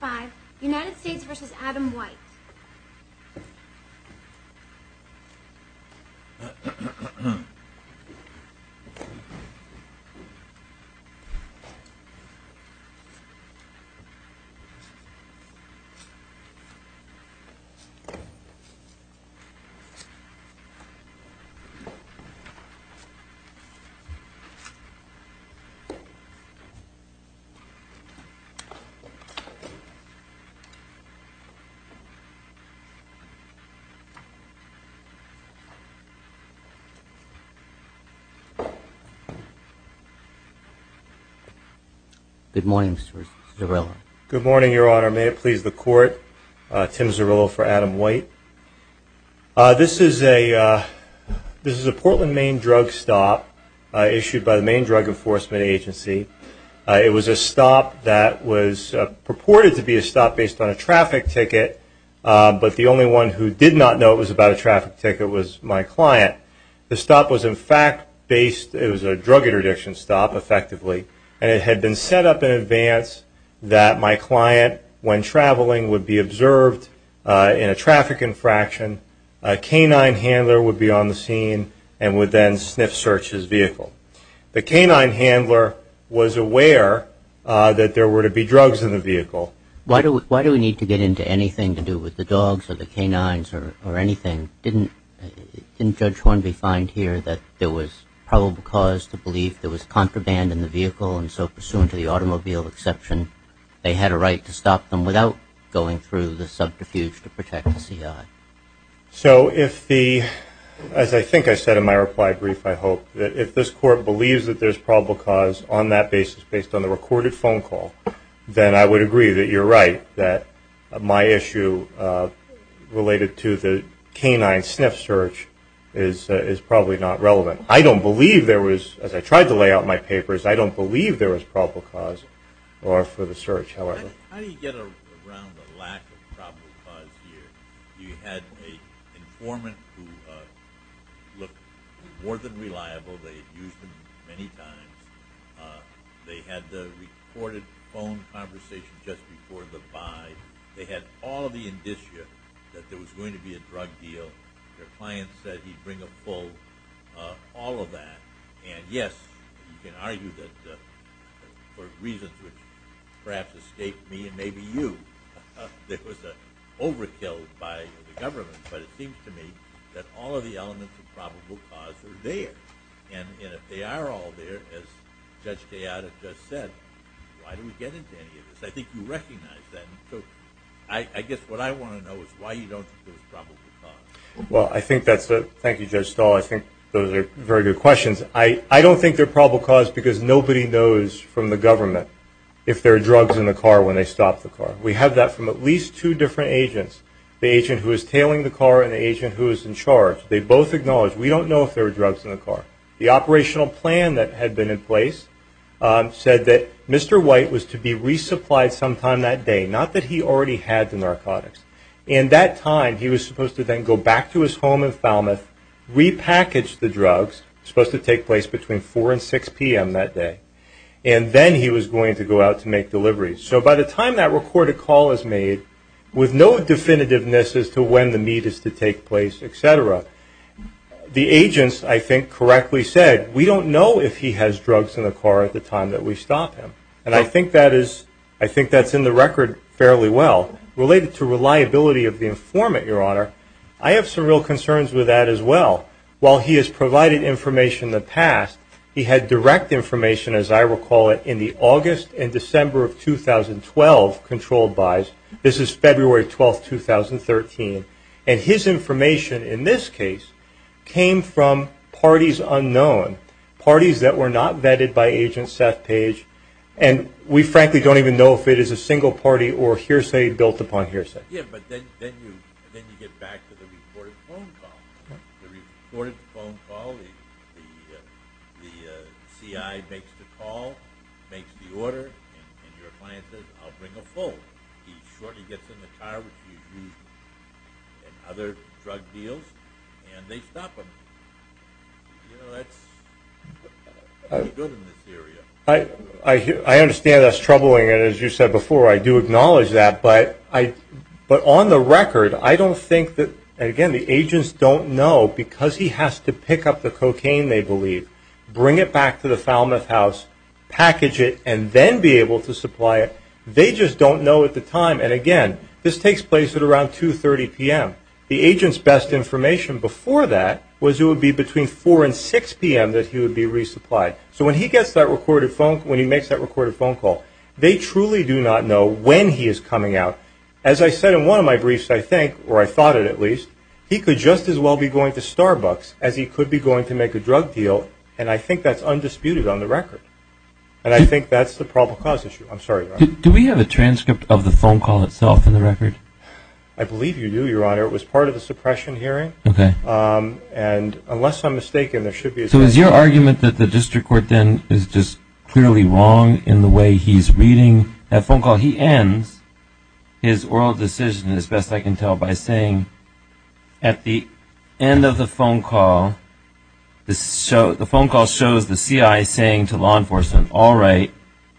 5. United States v. Adam White Good morning, Your Honor. May it please the Court, Tim Zarrillo for Adam White. This is a Portland, Maine drug stop issued by the Maine Drug Enforcement Agency. It was a stop that was purported to be a stop based on a traffic ticket, but the only one who did not know it was about a traffic ticket was my client. The stop was in fact based, it was a drug interdiction stop effectively, and it had been set up in advance that my client, when traveling, would be observed in a traffic infraction. A canine handler would be on the scene and would then sniff search his vehicle. The canine handler was aware that there were to be drugs in the vehicle. Why do we need to get into anything to do with the dogs or the canines or anything? Didn't Judge Hornby find here that there was probable cause to believe there was contraband in the vehicle, and so pursuant to the automobile exception, they had a right to stop them without going through the subterfuge to protect the CI? So if the, as I think I said in my reply brief, I hope, that if this court believes that there's probable cause on that basis based on the recorded phone call, then I would agree that you're right that my issue related to the canine sniff search is probably not relevant. I don't believe there was, as I tried to lay out in my papers, I don't believe there was probable cause for the search, however. How do you get around the lack of probable cause here? You had an informant who looked more than reliable. They had used him many times. They had the recorded phone conversation just before the buy. They had all of the indicia that there was going to be a drug deal. Their client said he'd bring a full, all of that. And, yes, you can argue that for reasons which perhaps escaped me and maybe you, there was an overkill by the government. But it seems to me that all of the elements of probable cause are there. And if they are all there, as Judge Gayada just said, why do we get into any of this? I think you recognize that. So I guess what I want to know is why you don't think there was probable cause. Well, I think that's a, thank you, Judge Stahl. I think those are very good questions. I don't think there's probable cause because nobody knows from the government if there are drugs in the car when they stop the car. We have that from at least two different agents, the agent who is tailing the car and the agent who is in charge. They both acknowledge we don't know if there are drugs in the car. The operational plan that had been in place said that Mr. White was to be resupplied sometime that day, not that he already had the narcotics. And that time he was supposed to then go back to his home in Falmouth, repackage the drugs, supposed to take place between 4 and 6 p.m. that day, and then he was going to go out to make deliveries. So by the time that recorded call is made, with no definitiveness as to when the meet is to take place, et cetera, the agents, I think, correctly said, we don't know if he has drugs in the car at the time that we stop him. And I think that is, I think that's in the record fairly well. Related to reliability of the informant, Your Honor, I have some real concerns with that as well. While he has provided information in the past, he had direct information, as I recall it, in the August and December of 2012 controlled buys. This is February 12, 2013. And his information in this case came from parties unknown, parties that were not vetted by Agent Seth Page. And we frankly don't even know if it is a single party or hearsay built upon hearsay. Yeah, but then you get back to the reported phone call. The reported phone call, the C.I. makes the call, makes the order, and your client says, I'll bring a phone. He shortly gets in the car, which he used in other drug deals, and they stop him. You know, that's pretty good in this area. I understand that's troubling, and as you said before, I do acknowledge that. But on the record, I don't think that, again, the agents don't know because he has to pick up the cocaine, they believe, bring it back to the Falmouth house, package it, and then be able to supply it. They just don't know at the time. And, again, this takes place at around 2.30 p.m. The agent's best information before that was it would be between 4 and 6 p.m. that he would be resupplied. So when he gets that recorded phone call, when he makes that recorded phone call, they truly do not know when he is coming out. As I said in one of my briefs, I think, or I thought it at least, he could just as well be going to Starbucks as he could be going to make a drug deal, and I think that's undisputed on the record. And I think that's the probable cause issue. I'm sorry, Your Honor. Do we have a transcript of the phone call itself in the record? I believe you do, Your Honor. It was part of the suppression hearing. Okay. And unless I'm mistaken, there should be a transcript. So is your argument that the district court then is just clearly wrong in the way he's reading that phone call? He ends his oral decision, as best I can tell, by saying at the end of the phone call, the phone call shows the CI saying to law enforcement, all right,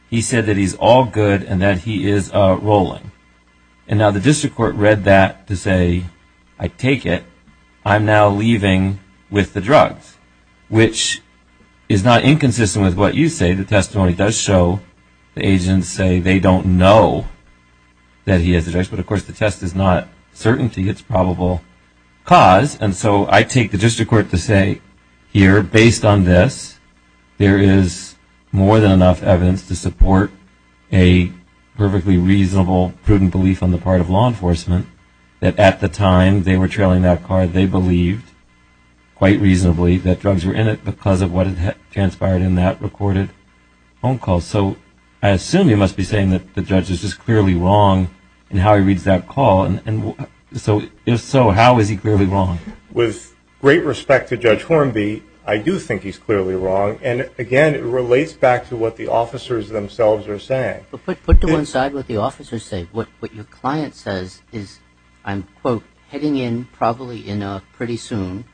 he said that he's all good and that he is rolling. And now the district court read that to say, I take it, I'm now leaving with the drugs, which is not inconsistent with what you say. The testimony does show the agents say they don't know that he has the drugs, but, of course, the test is not certainty. It's probable cause. And so I take the district court to say, here, based on this, there is more than enough evidence to support a perfectly reasonable, prudent belief on the part of law enforcement that at the time they were trailing that car, they believed quite reasonably that drugs were in it because of what transpired in that recorded phone call. So I assume you must be saying that the judge is just clearly wrong in how he reads that call. And if so, how is he clearly wrong? With great respect to Judge Hornby, I do think he's clearly wrong. And, again, it relates back to what the officers themselves are saying. But put to one side what the officers say. What your client says is, I'm, quote, heading in probably pretty soon.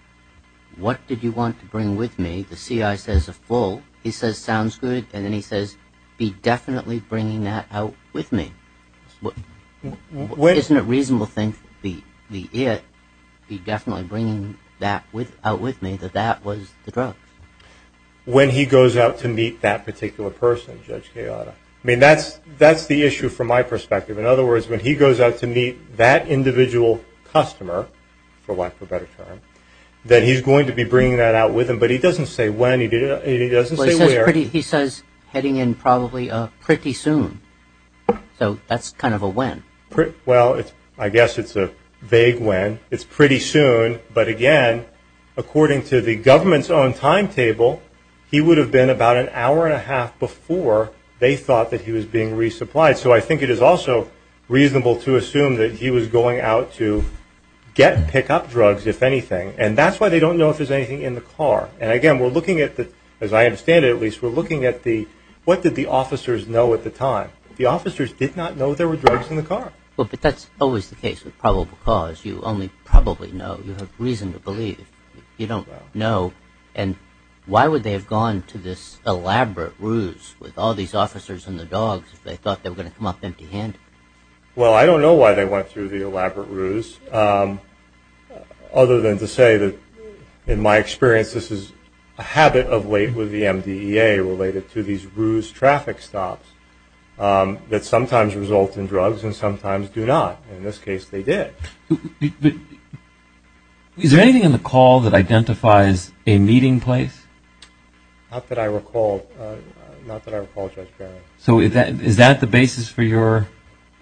What did you want to bring with me? The C.I. says a full. He says, sounds good. And then he says, be definitely bringing that out with me. Isn't it reasonable to think the it, be definitely bringing that out with me, that that was the drug? When he goes out to meet that particular person, Judge Gallardo. I mean, that's the issue from my perspective. In other words, when he goes out to meet that individual customer, for lack of a better term, that he's going to be bringing that out with him. But he doesn't say when. He doesn't say where. He says heading in probably pretty soon. So that's kind of a when. Well, I guess it's a vague when. It's pretty soon. But, again, according to the government's own timetable, he would have been about an hour and a half before they thought that he was being resupplied. So I think it is also reasonable to assume that he was going out to get pickup drugs, if anything. And that's why they don't know if there's anything in the car. And, again, we're looking at the, as I understand it at least, we're looking at the, what did the officers know at the time? The officers did not know there were drugs in the car. Well, but that's always the case with probable cause. You only probably know. You have reason to believe. You don't know. And why would they have gone to this elaborate ruse with all these officers and the dogs if they thought they were going to come up empty-handed? Well, I don't know why they went through the elaborate ruse, other than to say that, in my experience, this is a habit of late with the MDEA related to these ruse traffic stops that sometimes result in drugs and sometimes do not. In this case, they did. Is there anything in the call that identifies a meeting place? Not that I recall, Judge Barron. So is that the basis for your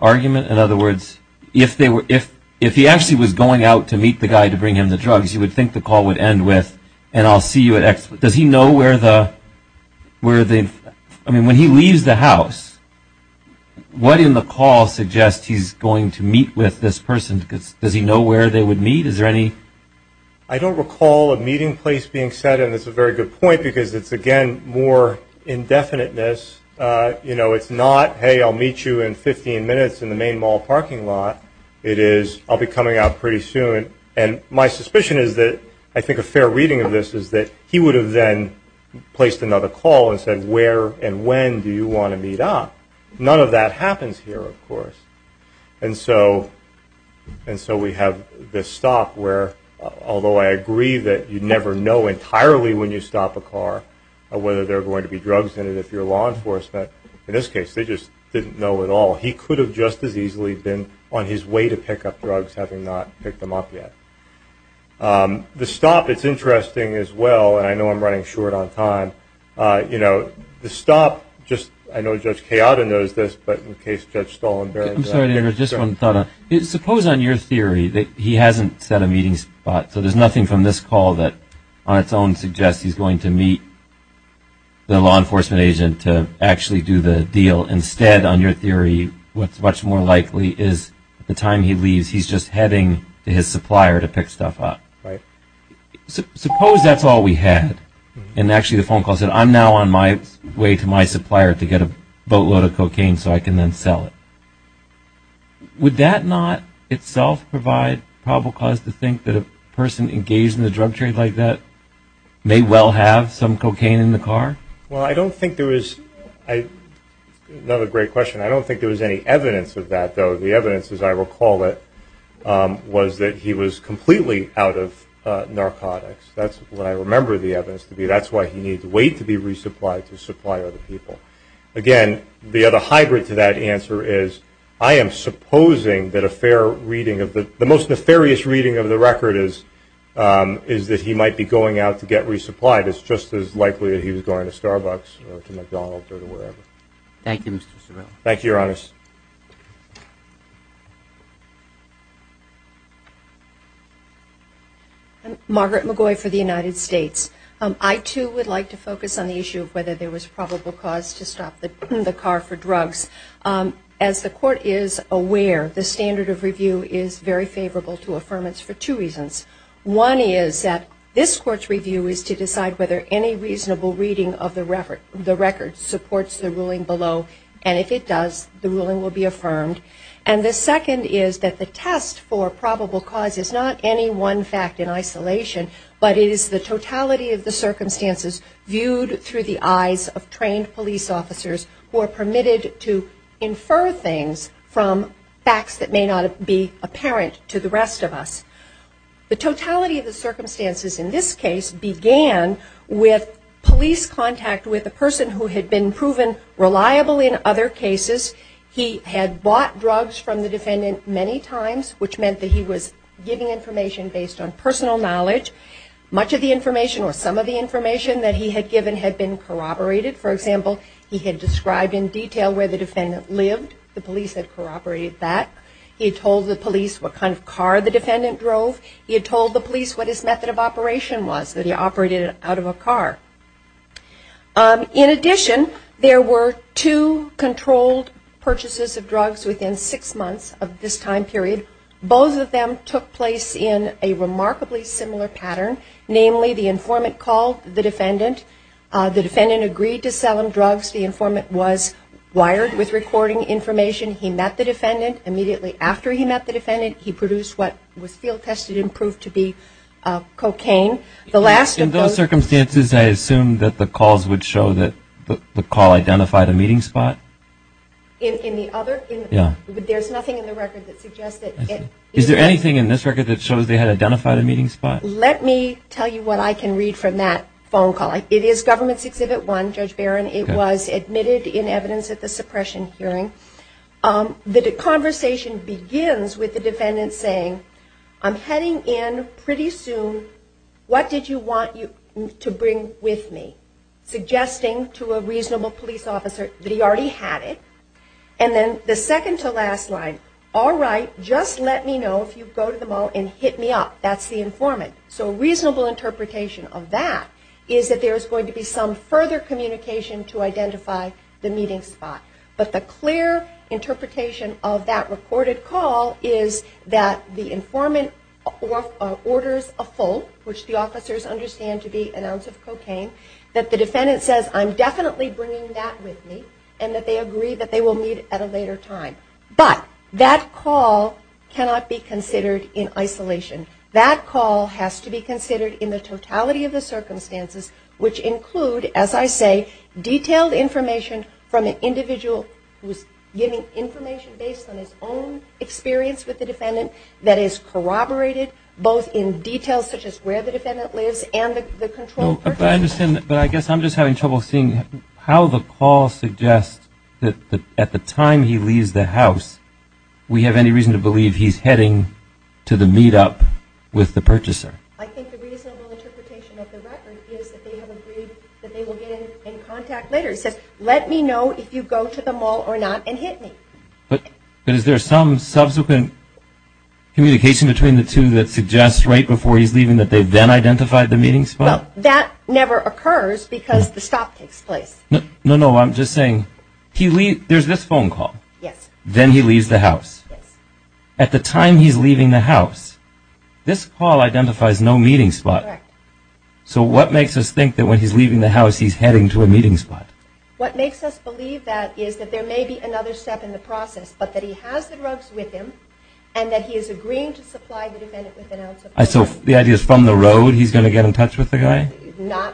argument? In other words, if he actually was going out to meet the guy to bring him the drugs, you would think the call would end with, and I'll see you at X. Does he know where the ñ I mean, when he leaves the house, what in the call suggests he's going to meet with this person? Does he know where they would meet? Is there any ñ I don't recall a meeting place being set, and it's a very good point because it's, again, more indefiniteness. You know, it's not, hey, I'll meet you in 15 minutes in the main mall parking lot. It is, I'll be coming out pretty soon. And my suspicion is that I think a fair reading of this is that he would have then placed another call and said where and when do you want to meet up. None of that happens here, of course. And so we have this stop where, although I agree that you never know entirely when you stop a car whether there are going to be drugs in it if you're law enforcement, in this case they just didn't know at all. He could have just as easily been on his way to pick up drugs having not picked them up yet. The stop, it's interesting as well, and I know I'm running short on time. You know, the stop, just ñ I know Judge Kayada knows this, but in case Judge Stollen ñ I'm sorry to interrupt. Just one thought. Suppose on your theory that he hasn't set a meeting spot, so there's nothing from this call that on its own suggests he's going to meet the law enforcement agent to actually do the deal. Instead, on your theory, what's much more likely is at the time he leaves he's just heading to his supplier to pick stuff up. Right. Suppose that's all we had and actually the phone call said, I'm now on my way to my supplier to get a boatload of cocaine so I can then sell it. Would that not itself provide probable cause to think that a person engaged in a drug trade like that may well have some cocaine in the car? Well, I don't think there is ñ another great question. I don't think there was any evidence of that, though. The evidence, as I recall it, was that he was completely out of narcotics. That's what I remember the evidence to be. That's why he needed to wait to be resupplied to supply other people. Again, the other hybrid to that answer is I am supposing that a fair reading of the ñ the most nefarious reading of the record is that he might be going out to get resupplied. It's just as likely that he was going to Starbucks or to McDonald's or to wherever. Thank you, Mr. Sobel. Thank you, Your Honor. I'm Margaret McGoy for the United States. I, too, would like to focus on the issue of whether there was probable cause to stop the car for drugs. As the Court is aware, the standard of review is very favorable to affirmance for two reasons. One is that this Court's review is to decide whether any reasonable reading of the record supports the ruling below. And if it does, the ruling will be affirmed. And the second is that the test for probable cause is not any one fact in isolation, but it is the totality of the circumstances viewed through the eyes of trained police officers who are permitted to infer things from facts that may not be apparent to the rest of us. The totality of the circumstances in this case began with police contact with a person who had been proven reliable in other cases. He had bought drugs from the defendant many times, which meant that he was giving information based on personal knowledge. Much of the information or some of the information that he had given had been corroborated. For example, he had described in detail where the defendant lived. The police had corroborated that. He had told the police what kind of car the defendant drove. He had told the police what his method of operation was, that he operated out of a car. In addition, there were two controlled purchases of drugs within six months of this time period. Both of them took place in a remarkably similar pattern. Namely, the informant called the defendant. The defendant agreed to sell him drugs. The informant was wired with recording information. He met the defendant. Immediately after he met the defendant, he produced what was field tested and proved to be cocaine. In those circumstances, I assume that the calls would show that the call identified a meeting spot? In the other? Yeah. But there's nothing in the record that suggests that. Is there anything in this record that shows they had identified a meeting spot? Let me tell you what I can read from that phone call. It is Government's Exhibit 1, Judge Barron. It was admitted in evidence at the suppression hearing. The conversation begins with the defendant saying, I'm heading in pretty soon, what did you want to bring with me? Suggesting to a reasonable police officer that he already had it. And then the second to last line, all right, just let me know if you go to the mall and hit me up. That's the informant. So a reasonable interpretation of that is that there is going to be some further communication to identify the meeting spot. But the clear interpretation of that recorded call is that the informant orders a full, which the officers understand to be an ounce of cocaine, that the defendant says, I'm definitely bringing that with me, and that they agree that they will meet at a later time. But that call cannot be considered in isolation. That call has to be considered in the totality of the circumstances, which include, as I say, detailed information from an individual who is giving information based on his own experience with the defendant that is corroborated both in detail, such as where the defendant lives and the controlled person. But I guess I'm just having trouble seeing how the call suggests that at the time he leaves the house, we have any reason to believe he's heading to the meetup with the purchaser. I think the reasonable interpretation of the record is that they have agreed that they will get in contact later. It says, let me know if you go to the mall or not and hit me. But is there some subsequent communication between the two that suggests right before he's leaving that they then identified the meeting spot? Well, that never occurs because the stop takes place. No, no, I'm just saying, there's this phone call. Yes. Then he leaves the house. Yes. At the time he's leaving the house, this call identifies no meeting spot. Correct. So what makes us think that when he's leaving the house he's heading to a meeting spot? What makes us believe that is that there may be another step in the process, but that he has the drugs with him and that he is agreeing to supply the defendant with an ounce of drugs. So the idea is from the road he's going to get in touch with the guy? Not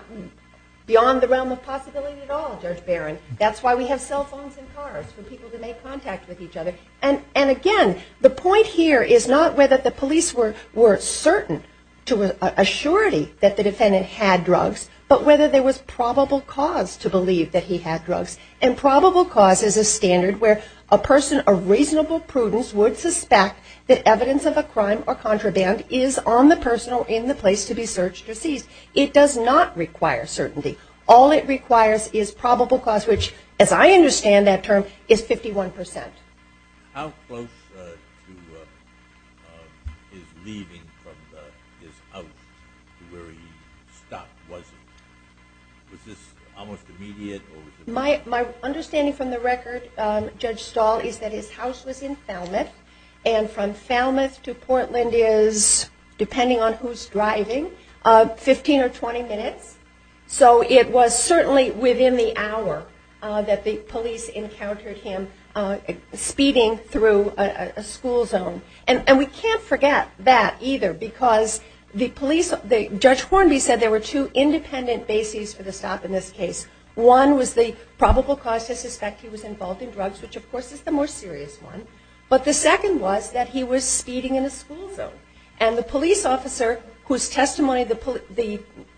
beyond the realm of possibility at all, Judge Barron. That's why we have cell phones and cars for people to make contact with each other. And, again, the point here is not whether the police were certain to an assurity that the defendant had drugs, but whether there was probable cause to believe that he had drugs. And probable cause is a standard where a person of reasonable prudence would suspect that evidence of a crime or contraband is on the person or in the place to be searched or seized. It does not require certainty. All it requires is probable cause, which, as I understand that term, is 51%. How close to his leaving from his house to where he stopped was it? Was this almost immediate? My understanding from the record, Judge Stahl, is that his house was in Falmouth, and from Falmouth to Portland is, depending on who's driving, 15 or 20 minutes. So it was certainly within the hour that the police encountered him speeding through a school zone. And we can't forget that either, because Judge Hornby said there were two independent bases for the stop in this case. One was the probable cause to suspect he was involved in drugs, which, of course, is the more serious one. But the second was that he was speeding in a school zone. And the police officer, whose testimony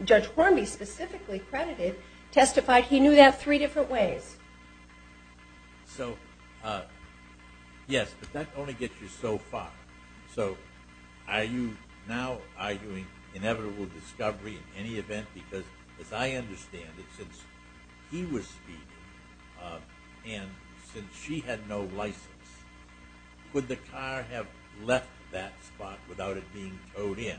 Judge Hornby specifically credited, testified he knew that three different ways. So, yes, but that only gets you so far. So are you now arguing inevitable discovery in any event? Because as I understand it, since he was speeding and since she had no license, could the car have left that spot without it being towed in?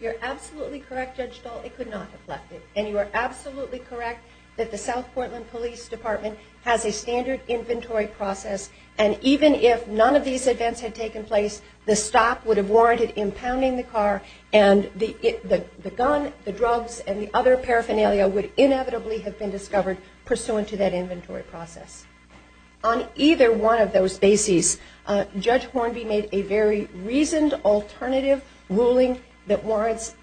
You're absolutely correct, Judge Stahl. It could not have left it. And you are absolutely correct that the South Portland Police Department has a standard inventory process, and even if none of these events had taken place, the stop would have warranted impounding the car, and the gun, the drugs, and the other paraphernalia would inevitably have been discovered pursuant to that inventory process. On either one of those bases, Judge Hornby made a very reasoned alternative ruling that warrants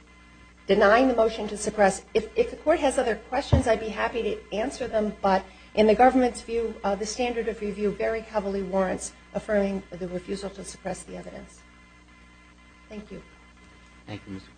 denying the motion to suppress. If the court has other questions, I'd be happy to answer them, but in the government's view, the standard of review very heavily warrants affirming the refusal to suppress the evidence. Thank you. Thank you, Mr. Floyd.